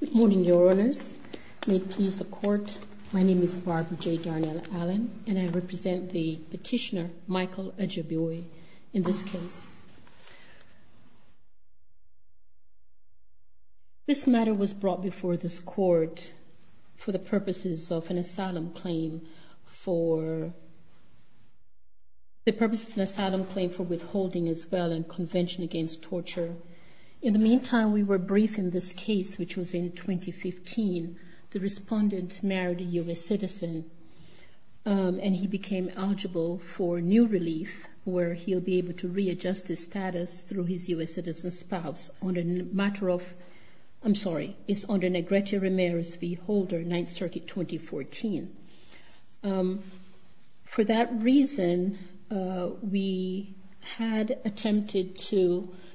Good morning, Your Honours. May it please the Court, my name is Barbara J. Garnella-Allen and I represent the petitioner Michael Ajiboye in this case. This matter was brought before this Court for the purposes of an asylum claim for the purpose of an asylum claim for withholding as well and convention against torture. In the meantime, we were briefed in this case which was in 2015. The respondent married a US citizen and he became eligible for new relief where he will be able to readjust his status through his US citizen spouse on a matter of, I'm sorry, it's under Negrete Ramirez v. Holder, 9th Circuit 2014. For that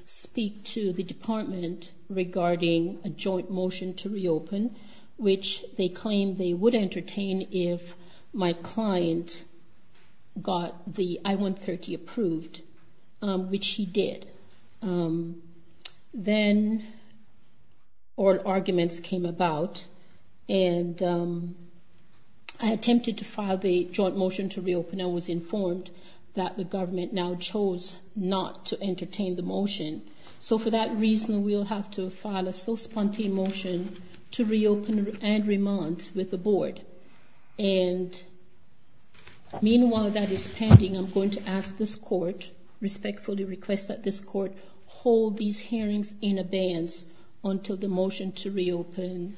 speak to the department regarding a joint motion to reopen, which they claimed they would entertain if my client got the I-130 approved, which he did. Then oral arguments came about and I attempted to file the joint motion to reopen and was informed that the government now chose not to entertain the motion. So for that reason, we'll have to file a so-spontane motion to reopen and remand with the board. And meanwhile that is pending, I'm going to ask this Court, respectfully request that this Court hold these hearings in abeyance until the motion to reopen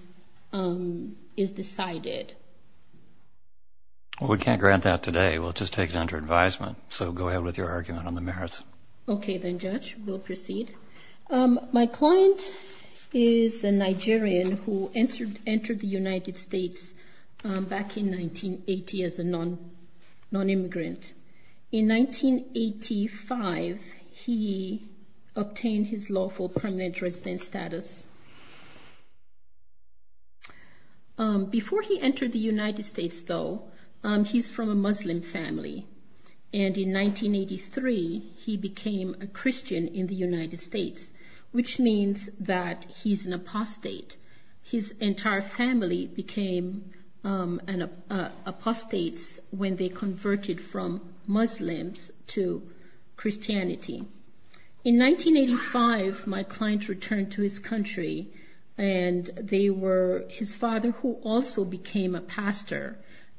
is decided. We can't grant that today. We'll just take it under advisement. So go ahead with your argument on the merits. Okay then Judge, we'll proceed. My client is a Nigerian who entered the United States back in 1980 as a non-immigrant. In 1985, he obtained his lawful permanent resident status. Before he entered the United States though, he's from a Muslim family. And in 1983, he became a Christian in the United States, which means that he's an apostate. His entire family became apostates when they converted from Muslims to Christianity. In 1985, my client returned to his country. And they were, his father who also became a pastor,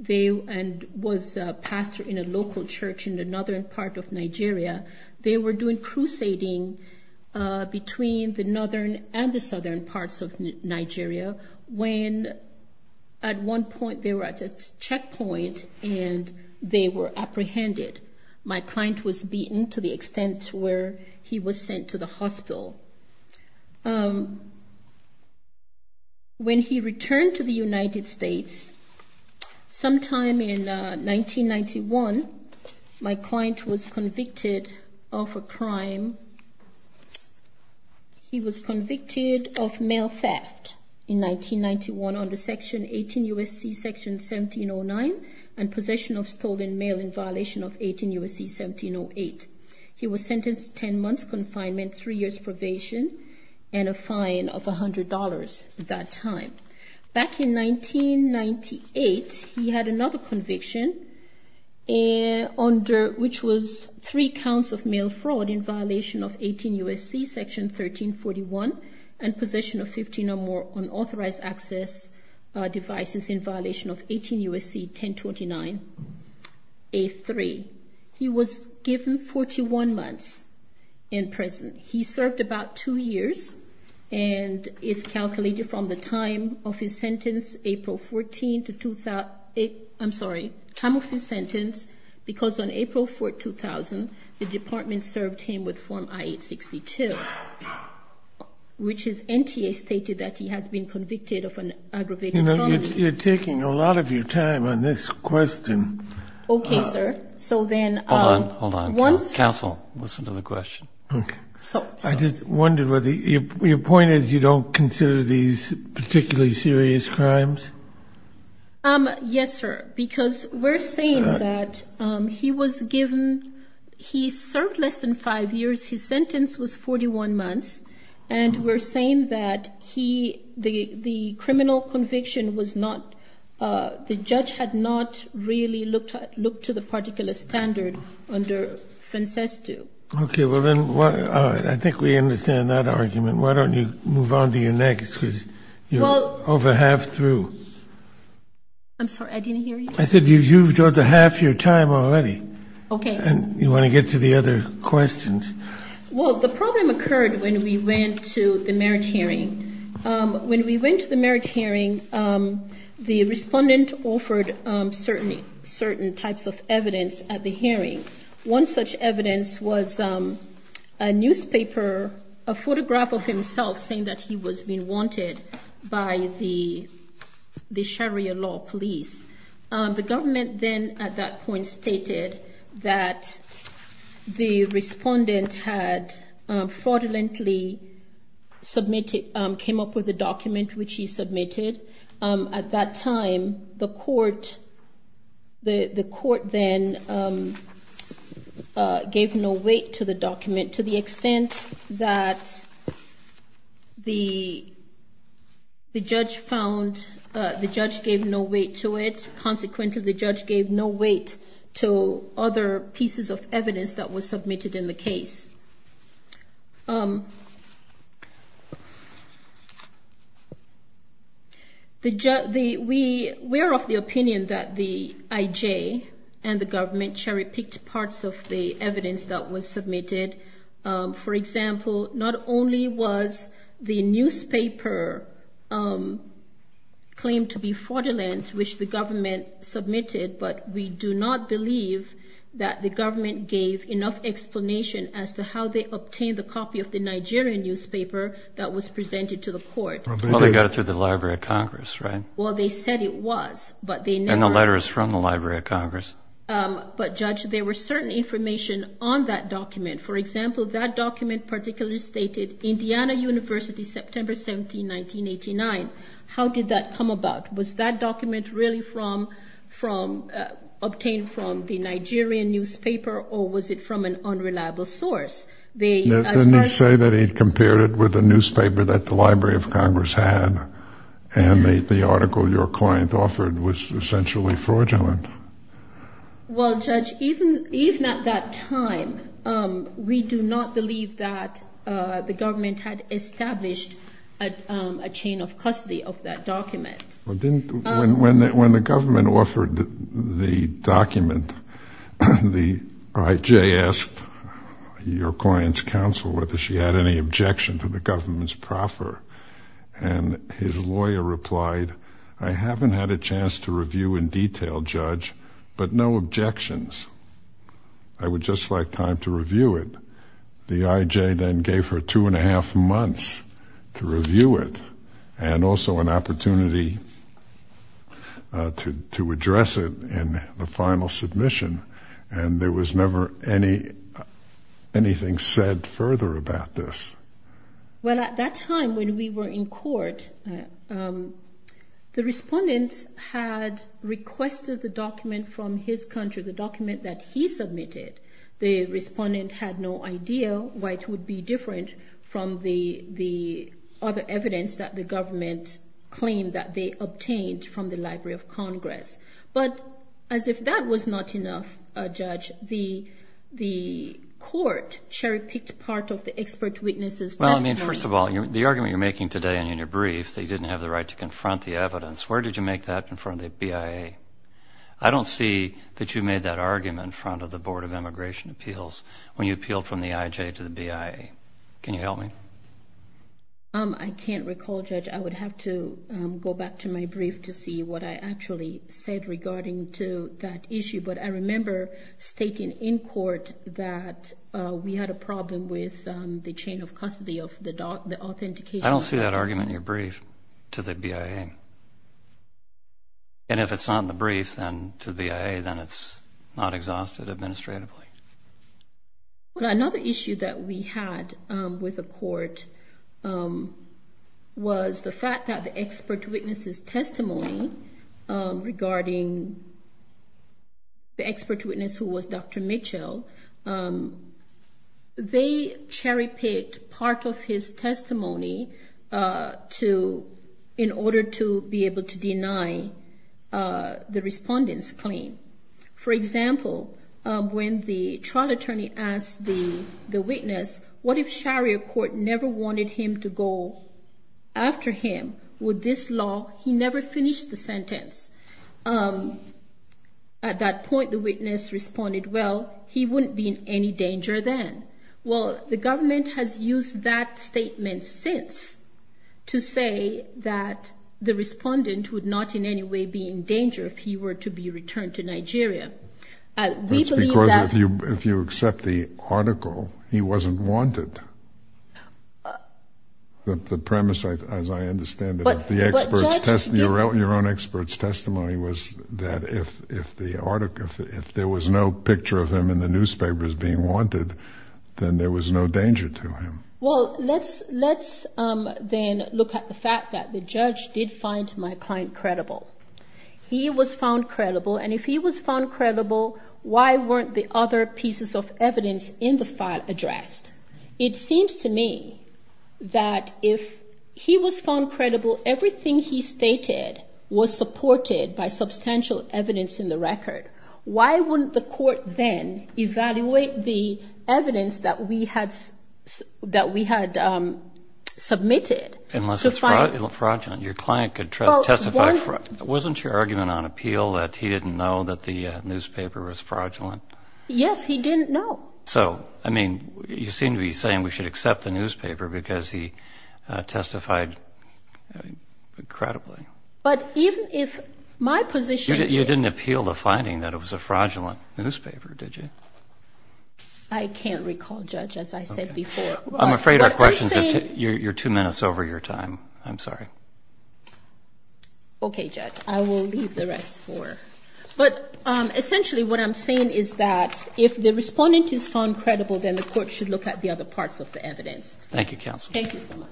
and was a pastor in a local church in the northern part of Nigeria, they were doing crusading between the northern and the southern parts of Nigeria when at one point they were at a checkpoint and they were apprehended. My client was beaten to the ground. When he returned to the United States, sometime in 1991, my client was convicted of a crime. He was convicted of mail theft in 1991 under Section 18 U.S.C. Section 1709 and possession of stolen mail in violation of 18 U.S.C. 1708. He was sentenced to 10 months confinement, three years probation, and a fine of a hundred dollars at that time. Back in 1998, he had another conviction under, which was three counts of mail fraud in violation of 18 U.S.C. Section 1341 and possession of 15 or more unauthorized access devices in violation of 18 U.S.C. 1029 A3. He was given 41 months in prison. He served about two years, and it's calculated from the time of his sentence April 14 to 2008, I'm sorry, time of his sentence, because on April 4, 2000, the department served him with form I-862, which his NTA stated that he has been convicted of an aggravated crime. You're taking a lot of your time on this question. Okay, sir. So then, once... Hold on, hold on. Counsel, listen to the question. Okay. So... I just wondered whether, your point is you don't consider these particularly serious crimes? Yes, sir, because we're saying that he was given, he served less than five years, his sentence was 41 months, and we're saying that he, the criminal conviction was not, the judge had not really looked to the particular standard under Francesto. Okay, well then, I think we understand that argument. Why don't you move on to your next, because you're over half through. I'm sorry, I didn't hear you. I said you've got the half your time already. Okay. And you want to get to the other questions. Well, the problem occurred when we went to the merit hearing. When we went to the merit hearing, the respondent offered certain types of evidence at the hearing. One such evidence was a newspaper, a photograph of himself saying that he was being wanted by the Sharia law police. The government then, at that point, stated that the respondent had fraudulently submitted, came up with a document which he submitted. At that time, the court, the court then gave no weight to the document to the extent that the judge found, the judge gave no weight to it. Consequently, the judge gave no weight to other pieces of evidence that was submitted. We're of the opinion that the IJ and the government cherry-picked parts of the evidence that was submitted. For example, not only was the newspaper claimed to be fraudulent, which the government submitted, but we do not believe that the government gave enough explanation as to how they obtained the copy of the Nigerian newspaper that was presented to the court. Well, they got it through the Library of Congress, right? Well, they said it was, but they never... And the letter is from the Library of Congress. But judge, there were certain information on that document. For example, that document particularly stated, Indiana University, September 17, 1989. How did that come about? Was that document really obtained from the Nigerian newspaper or was it from an unreliable source? Didn't he say that he'd compared it with the newspaper that the Library of Congress had and the article your client offered was essentially fraudulent? Well, judge, even at that time, we do not believe that the government had established a chain of custody of that document. When the government offered the document, the IJ asked your client's counsel whether she had any objection to the government's proffer. And his lawyer replied, I haven't had a chance to review in detail, judge, but no objections. I would just like time to review it. The IJ then gave her two and a half months to review it and also an opportunity to address it in the final submission. And there was never anything said further about this. Well, at that time when we were in court, the respondent had requested the document from his country, the document that he submitted. The respondent had no idea why it would be different from the other evidence that the government claimed that they obtained from the Library of Congress. But as if that was not enough, judge, the court cherry-picked part of the expert witnesses testimony. Well, I mean, first of all, the argument you're making today in your briefs, they didn't have the right to confront the evidence. Where did you make that in front of the BIA? I don't see that you made that argument in front of the Board of Immigration Appeals when you appealed from the IJ to the BIA. Can you help me? I can't recall, judge. I would have to go back to my brief to see what I actually said regarding to that issue. But I remember stating in court that we had a problem with the chain of custody of the authentication. I don't see that argument in your brief to the BIA. And if it's not in the brief, then to the BIA, then it's not exhausted administratively. But another issue that we had with the court was the fact that the expert witnesses testimony regarding the expert witness who was Dr. Mitchell, they cherry-picked part of his testimony in order to be able to deny the respondent's claim. For example, when the trial attorney asked the witness, what if Sharior Court never wanted him to go after him with this law? He never finished the sentence. At that point, the witness responded, well, he wouldn't be in any danger then. Well, the government has used that statement since to say that the respondent would not in any way be in danger if he were to be returned to Nigeria. We believe that- That's because if you accept the article, he wasn't wanted. The premise, as I understand it, of the expert's testimony, your own expert's testimony was that if the article, if there was no picture of him in the record, then there was no danger to him. Well, let's then look at the fact that the judge did find my client credible. He was found credible, and if he was found credible, why weren't the other pieces of evidence in the file addressed? It seems to me that if he was found credible, everything he stated was supported by substantial evidence in the record, why wouldn't the court then evaluate the evidence that we had submitted to find- Unless it's fraudulent. Your client could testify. Wasn't your argument on appeal that he didn't know that the newspaper was fraudulent? Yes, he didn't know. So, I mean, you seem to be saying we should accept the newspaper because he testified credibly. But even if my position is- I can't recall, Judge, as I said before. I'm afraid our questions have taken, you're two minutes over your time. I'm sorry. Okay, Judge, I will leave the rest for, but essentially what I'm saying is that if the respondent is found credible, then the court should look at the other parts of the evidence. Thank you, Counsel. Thank you so much.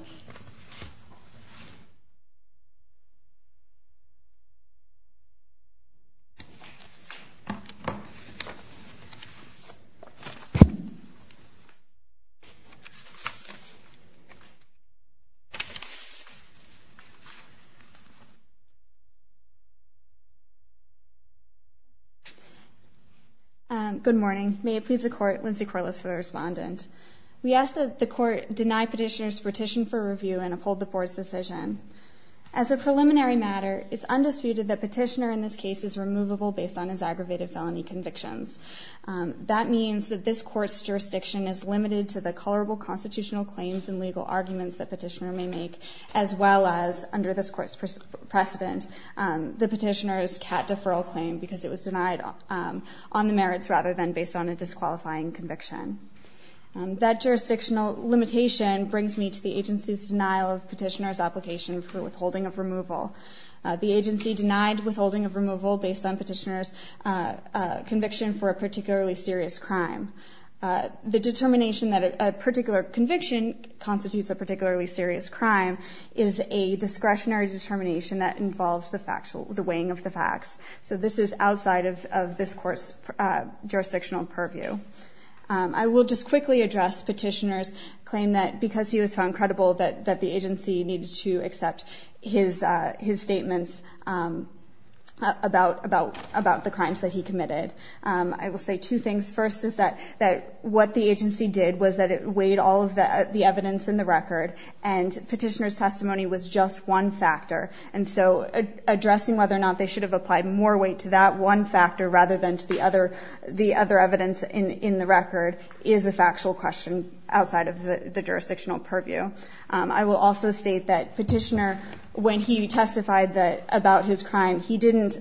Good morning. May it please the court, Lindsay Corliss for the respondent. We ask that the court deny petitioner's petition for review and uphold the board's decision. As a preliminary matter, it's undisputed that petitioner in this case is removable based on his aggravated felony convictions. That means that this court's jurisdiction is limited to the colorable constitutional claims and legal arguments that petitioner may make, as well as, under this court's precedent, the petitioner's cat deferral claim, because it was denied on the merits rather than based on a disqualifying conviction. That jurisdictional limitation brings me to the agency's denial of petitioner's application for withholding of removal. The agency denied withholding of removal based on petitioner's conviction for a particularly serious crime. The determination that a particular conviction constitutes a particularly serious crime is a discretionary determination that involves the weighing of the facts. So this is outside of this court's jurisdictional purview. I will just quickly address petitioner's claim that because he was found credible that the agency needed to accept his statements about the crimes that he committed. I will say two things. First is that what the agency did was that it weighed all of the evidence in the record, and petitioner's testimony was just one factor. And so addressing whether or not they should have applied more weight to that one factor rather than to the other evidence in the record is a factual question outside of the jurisdictional purview. I will also state that petitioner, when he testified about his crime, he didn't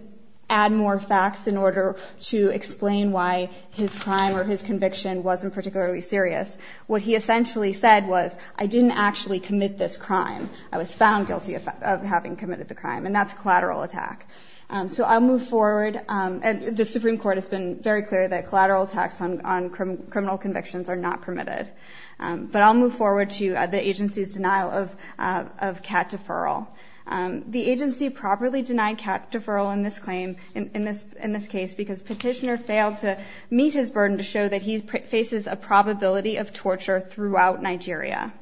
add more facts in order to explain why his crime or his conviction wasn't particularly serious. What he essentially said was, I didn't actually commit this crime. I was found guilty of having committed the crime. And that's a collateral attack. So I'll move forward, and the Supreme Court has been very clear that collateral attacks on criminal convictions are not permitted. But I'll move forward to the agency's denial of cat deferral. The agency properly denied cat deferral in this claim, in this case, because petitioner failed to meet his burden to show that he faces a probability of torture throughout Nigeria.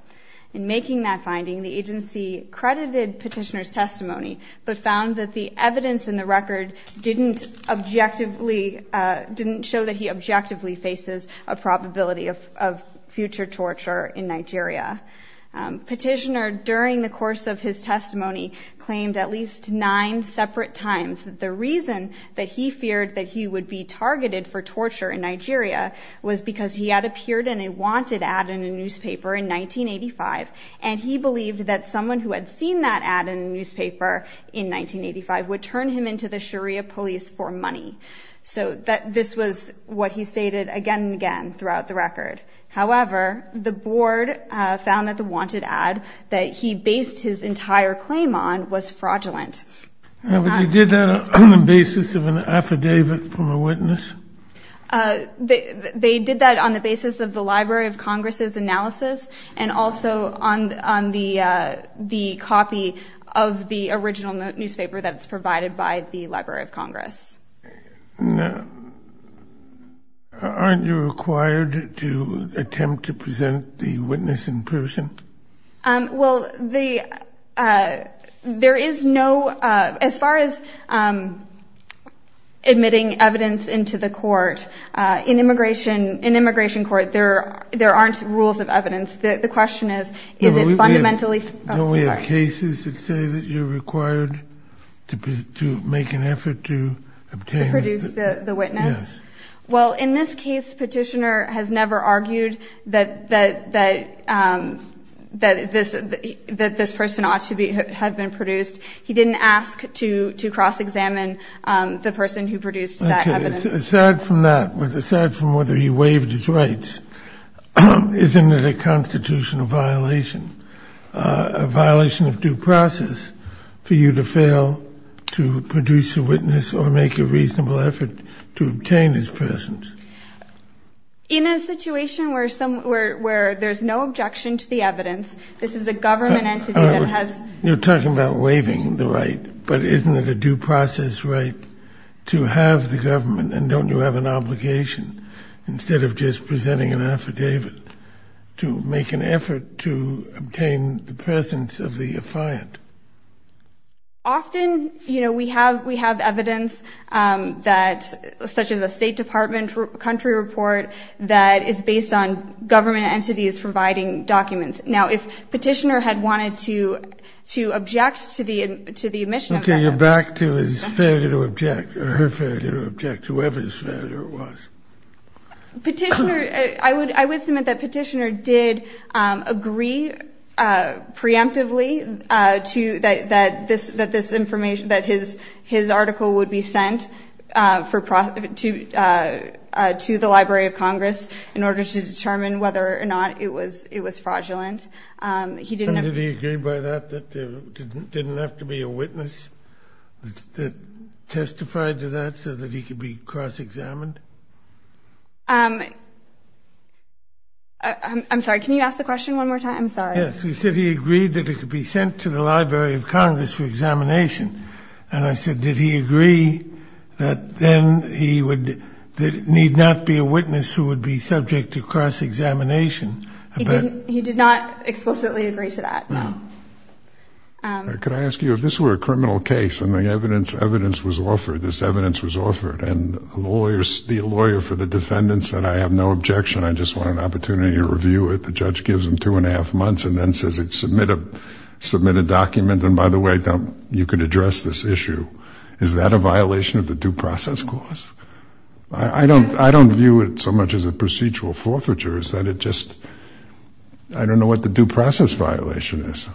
In making that finding, the agency credited petitioner's testimony, but found that the evidence in the record didn't objectively, didn't show that he objectively faces a probability of future torture in Nigeria. Petitioner, during the course of his testimony, claimed at least nine separate times that the reason that he feared that he would be targeted for torture in Nigeria was because he had appeared in a wanted ad in a newspaper in 1985, and he believed that someone who had seen that ad in a newspaper in 1985 would turn him into the Sharia police for money. So this was what he stated again and again throughout the record. However, the board found that the wanted ad that he based his entire claim on was fraudulent. But they did that on the basis of an affidavit from a witness? They did that on the basis of the Library of Congress's analysis, and also on the copy of the original newspaper that's provided by the Library of Congress. Now, aren't you required to attempt to present the witness in person? Well, there is no, as far as admitting evidence into the court, in immigration court, there aren't rules of evidence. The question is, is it fundamentally- Don't we have cases that say that you're required to make an effort to obtain- Produce the witness? Yes. Well, in this case, Petitioner has never argued that this person ought to have been produced. He didn't ask to cross-examine the person who produced that evidence. Aside from that, aside from whether he waived his rights, isn't it a constitutional violation, a violation of due process, for you to fail to produce a witness or make a reasonable effort to obtain his presence? In a situation where there's no objection to the evidence, this is a government entity that has- You're talking about waiving the right, but isn't it a due process right to have the government, and don't you have an obligation, instead of just presenting an affidavit, to make an effort to obtain the presence of the affiant? Often, you know, we have evidence that, such as a State Department country report, that is based on government entities providing documents. Now, if Petitioner had wanted to object to the admission of evidence- Okay, you're back to his failure to object, or her failure to object, whoever his failure was. Petitioner, I would submit that Petitioner did agree preemptively to, that this information, that his article would be sent to the Library of Congress in order to determine whether or not it was fraudulent. He didn't- And did he agree by that, that there didn't have to be a witness that testified to that, so that he could be cross-examined? I'm sorry, can you ask the question one more time? I'm sorry. Yes, you said he agreed that it could be sent to the Library of Congress for examination, and I said, did he agree that then he would, that it need not be a witness who would be subject to cross-examination? He did not explicitly agree to that, no. Could I ask you, if this were a criminal case, and the evidence was offered, this defendant said, I have no objection, I just want an opportunity to review it. The judge gives him two and a half months, and then says, submit a document. And by the way, you could address this issue. Is that a violation of the due process clause? I don't view it so much as a procedural forfeiture, is that it just, I don't know what the due process violation is.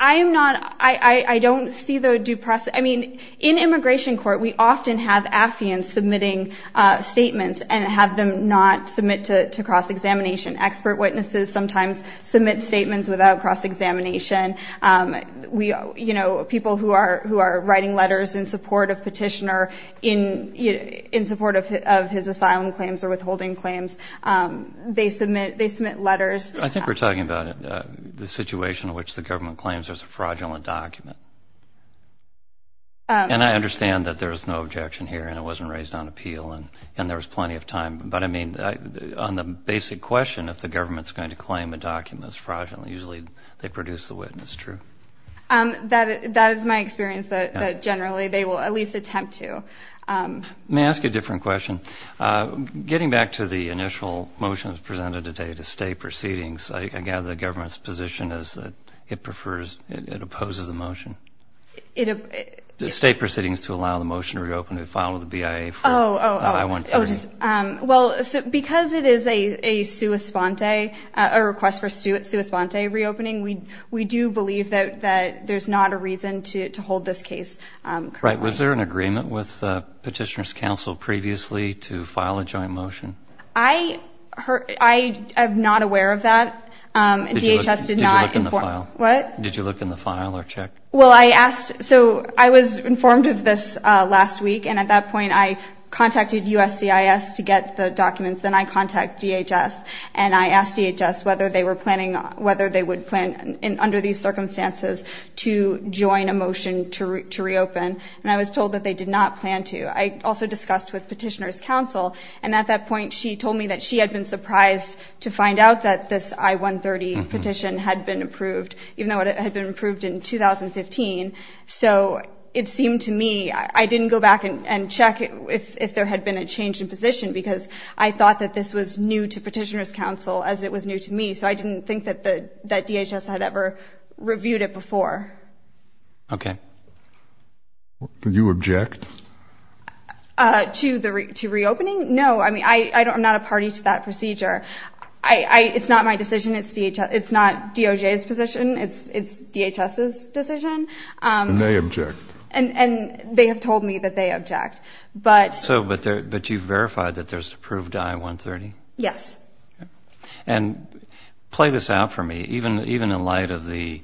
I am not, I don't see the due process, I mean, in immigration court, we often have staffians submitting statements, and have them not submit to cross-examination. Expert witnesses sometimes submit statements without cross-examination. We, you know, people who are, who are writing letters in support of petitioner, in, in support of, of his asylum claims or withholding claims. They submit, they submit letters. I think we're talking about the situation in which the government claims there's a fraudulent document. And I understand that there's no objection here, and it wasn't raised on appeal, and there was plenty of time, but I mean, on the basic question, if the government's going to claim a document that's fraudulent, usually they produce the witness, true? That, that is my experience, that generally they will at least attempt to. May I ask a different question? Getting back to the initial motion that was presented today, the state proceedings, I gather the government's position is that it prefers, it opposes the motion. It, it. The state proceedings to allow the motion to be reopened and filed with the BIA for. Oh, oh, oh. I want to. Well, because it is a, a sua sponte, a request for sua, sua sponte reopening, we, we do believe that, that there's not a reason to, to hold this case currently. Right, was there an agreement with petitioner's council previously to file a joint motion? I heard, I, I'm not aware of that. DHS did not inform. Did you look in the file? What? Did you look in the file or check? Well, I asked, so I was informed of this last week and at that point I contacted USCIS to get the documents, then I contact DHS and I asked DHS whether they were planning, whether they would plan under these circumstances to join a motion to re, to reopen and I was told that they did not plan to. I also discussed with petitioner's council and at that point she told me that she had been surprised to find out that this I-130 petition had been approved, even though it had been approved in 2015, so it seemed to me, I didn't go back and check if, if there had been a change in position because I thought that this was new to petitioner's council as it was new to me, so I didn't think that the, that DHS had ever reviewed it before. Okay. Do you object? To the re, to reopening? No, I mean, I, I don't, I'm not a party to that procedure. I, I, it's not my decision. It's DHS, it's not DOJ's position. It's, it's DHS's decision. And they object. And, and they have told me that they object, but. So, but there, but you've verified that there's approved I-130? Yes. Okay. And play this out for me. Even, even in light of the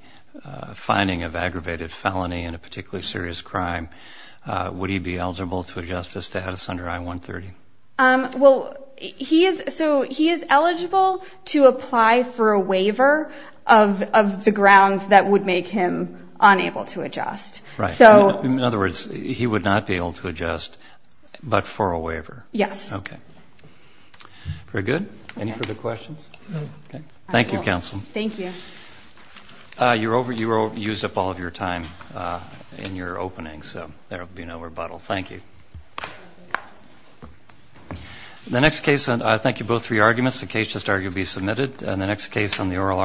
finding of aggravated felony in a particularly serious crime, would he be eligible to adjust his status under I-130? Well, he is, so he is eligible to apply for a waiver of, of the grounds that would make him unable to adjust. Right. So. In other words, he would not be able to adjust, but for a waiver. Yes. Okay. Very good. Any further questions? No. Okay. Thank you, counsel. Thank you. You're over, you used up all of your time in your opening, so there'll be no rebuttal. Thank you. The next case, and I thank you both for your arguments. The case just argued will be submitted. And the next case on the oral argument.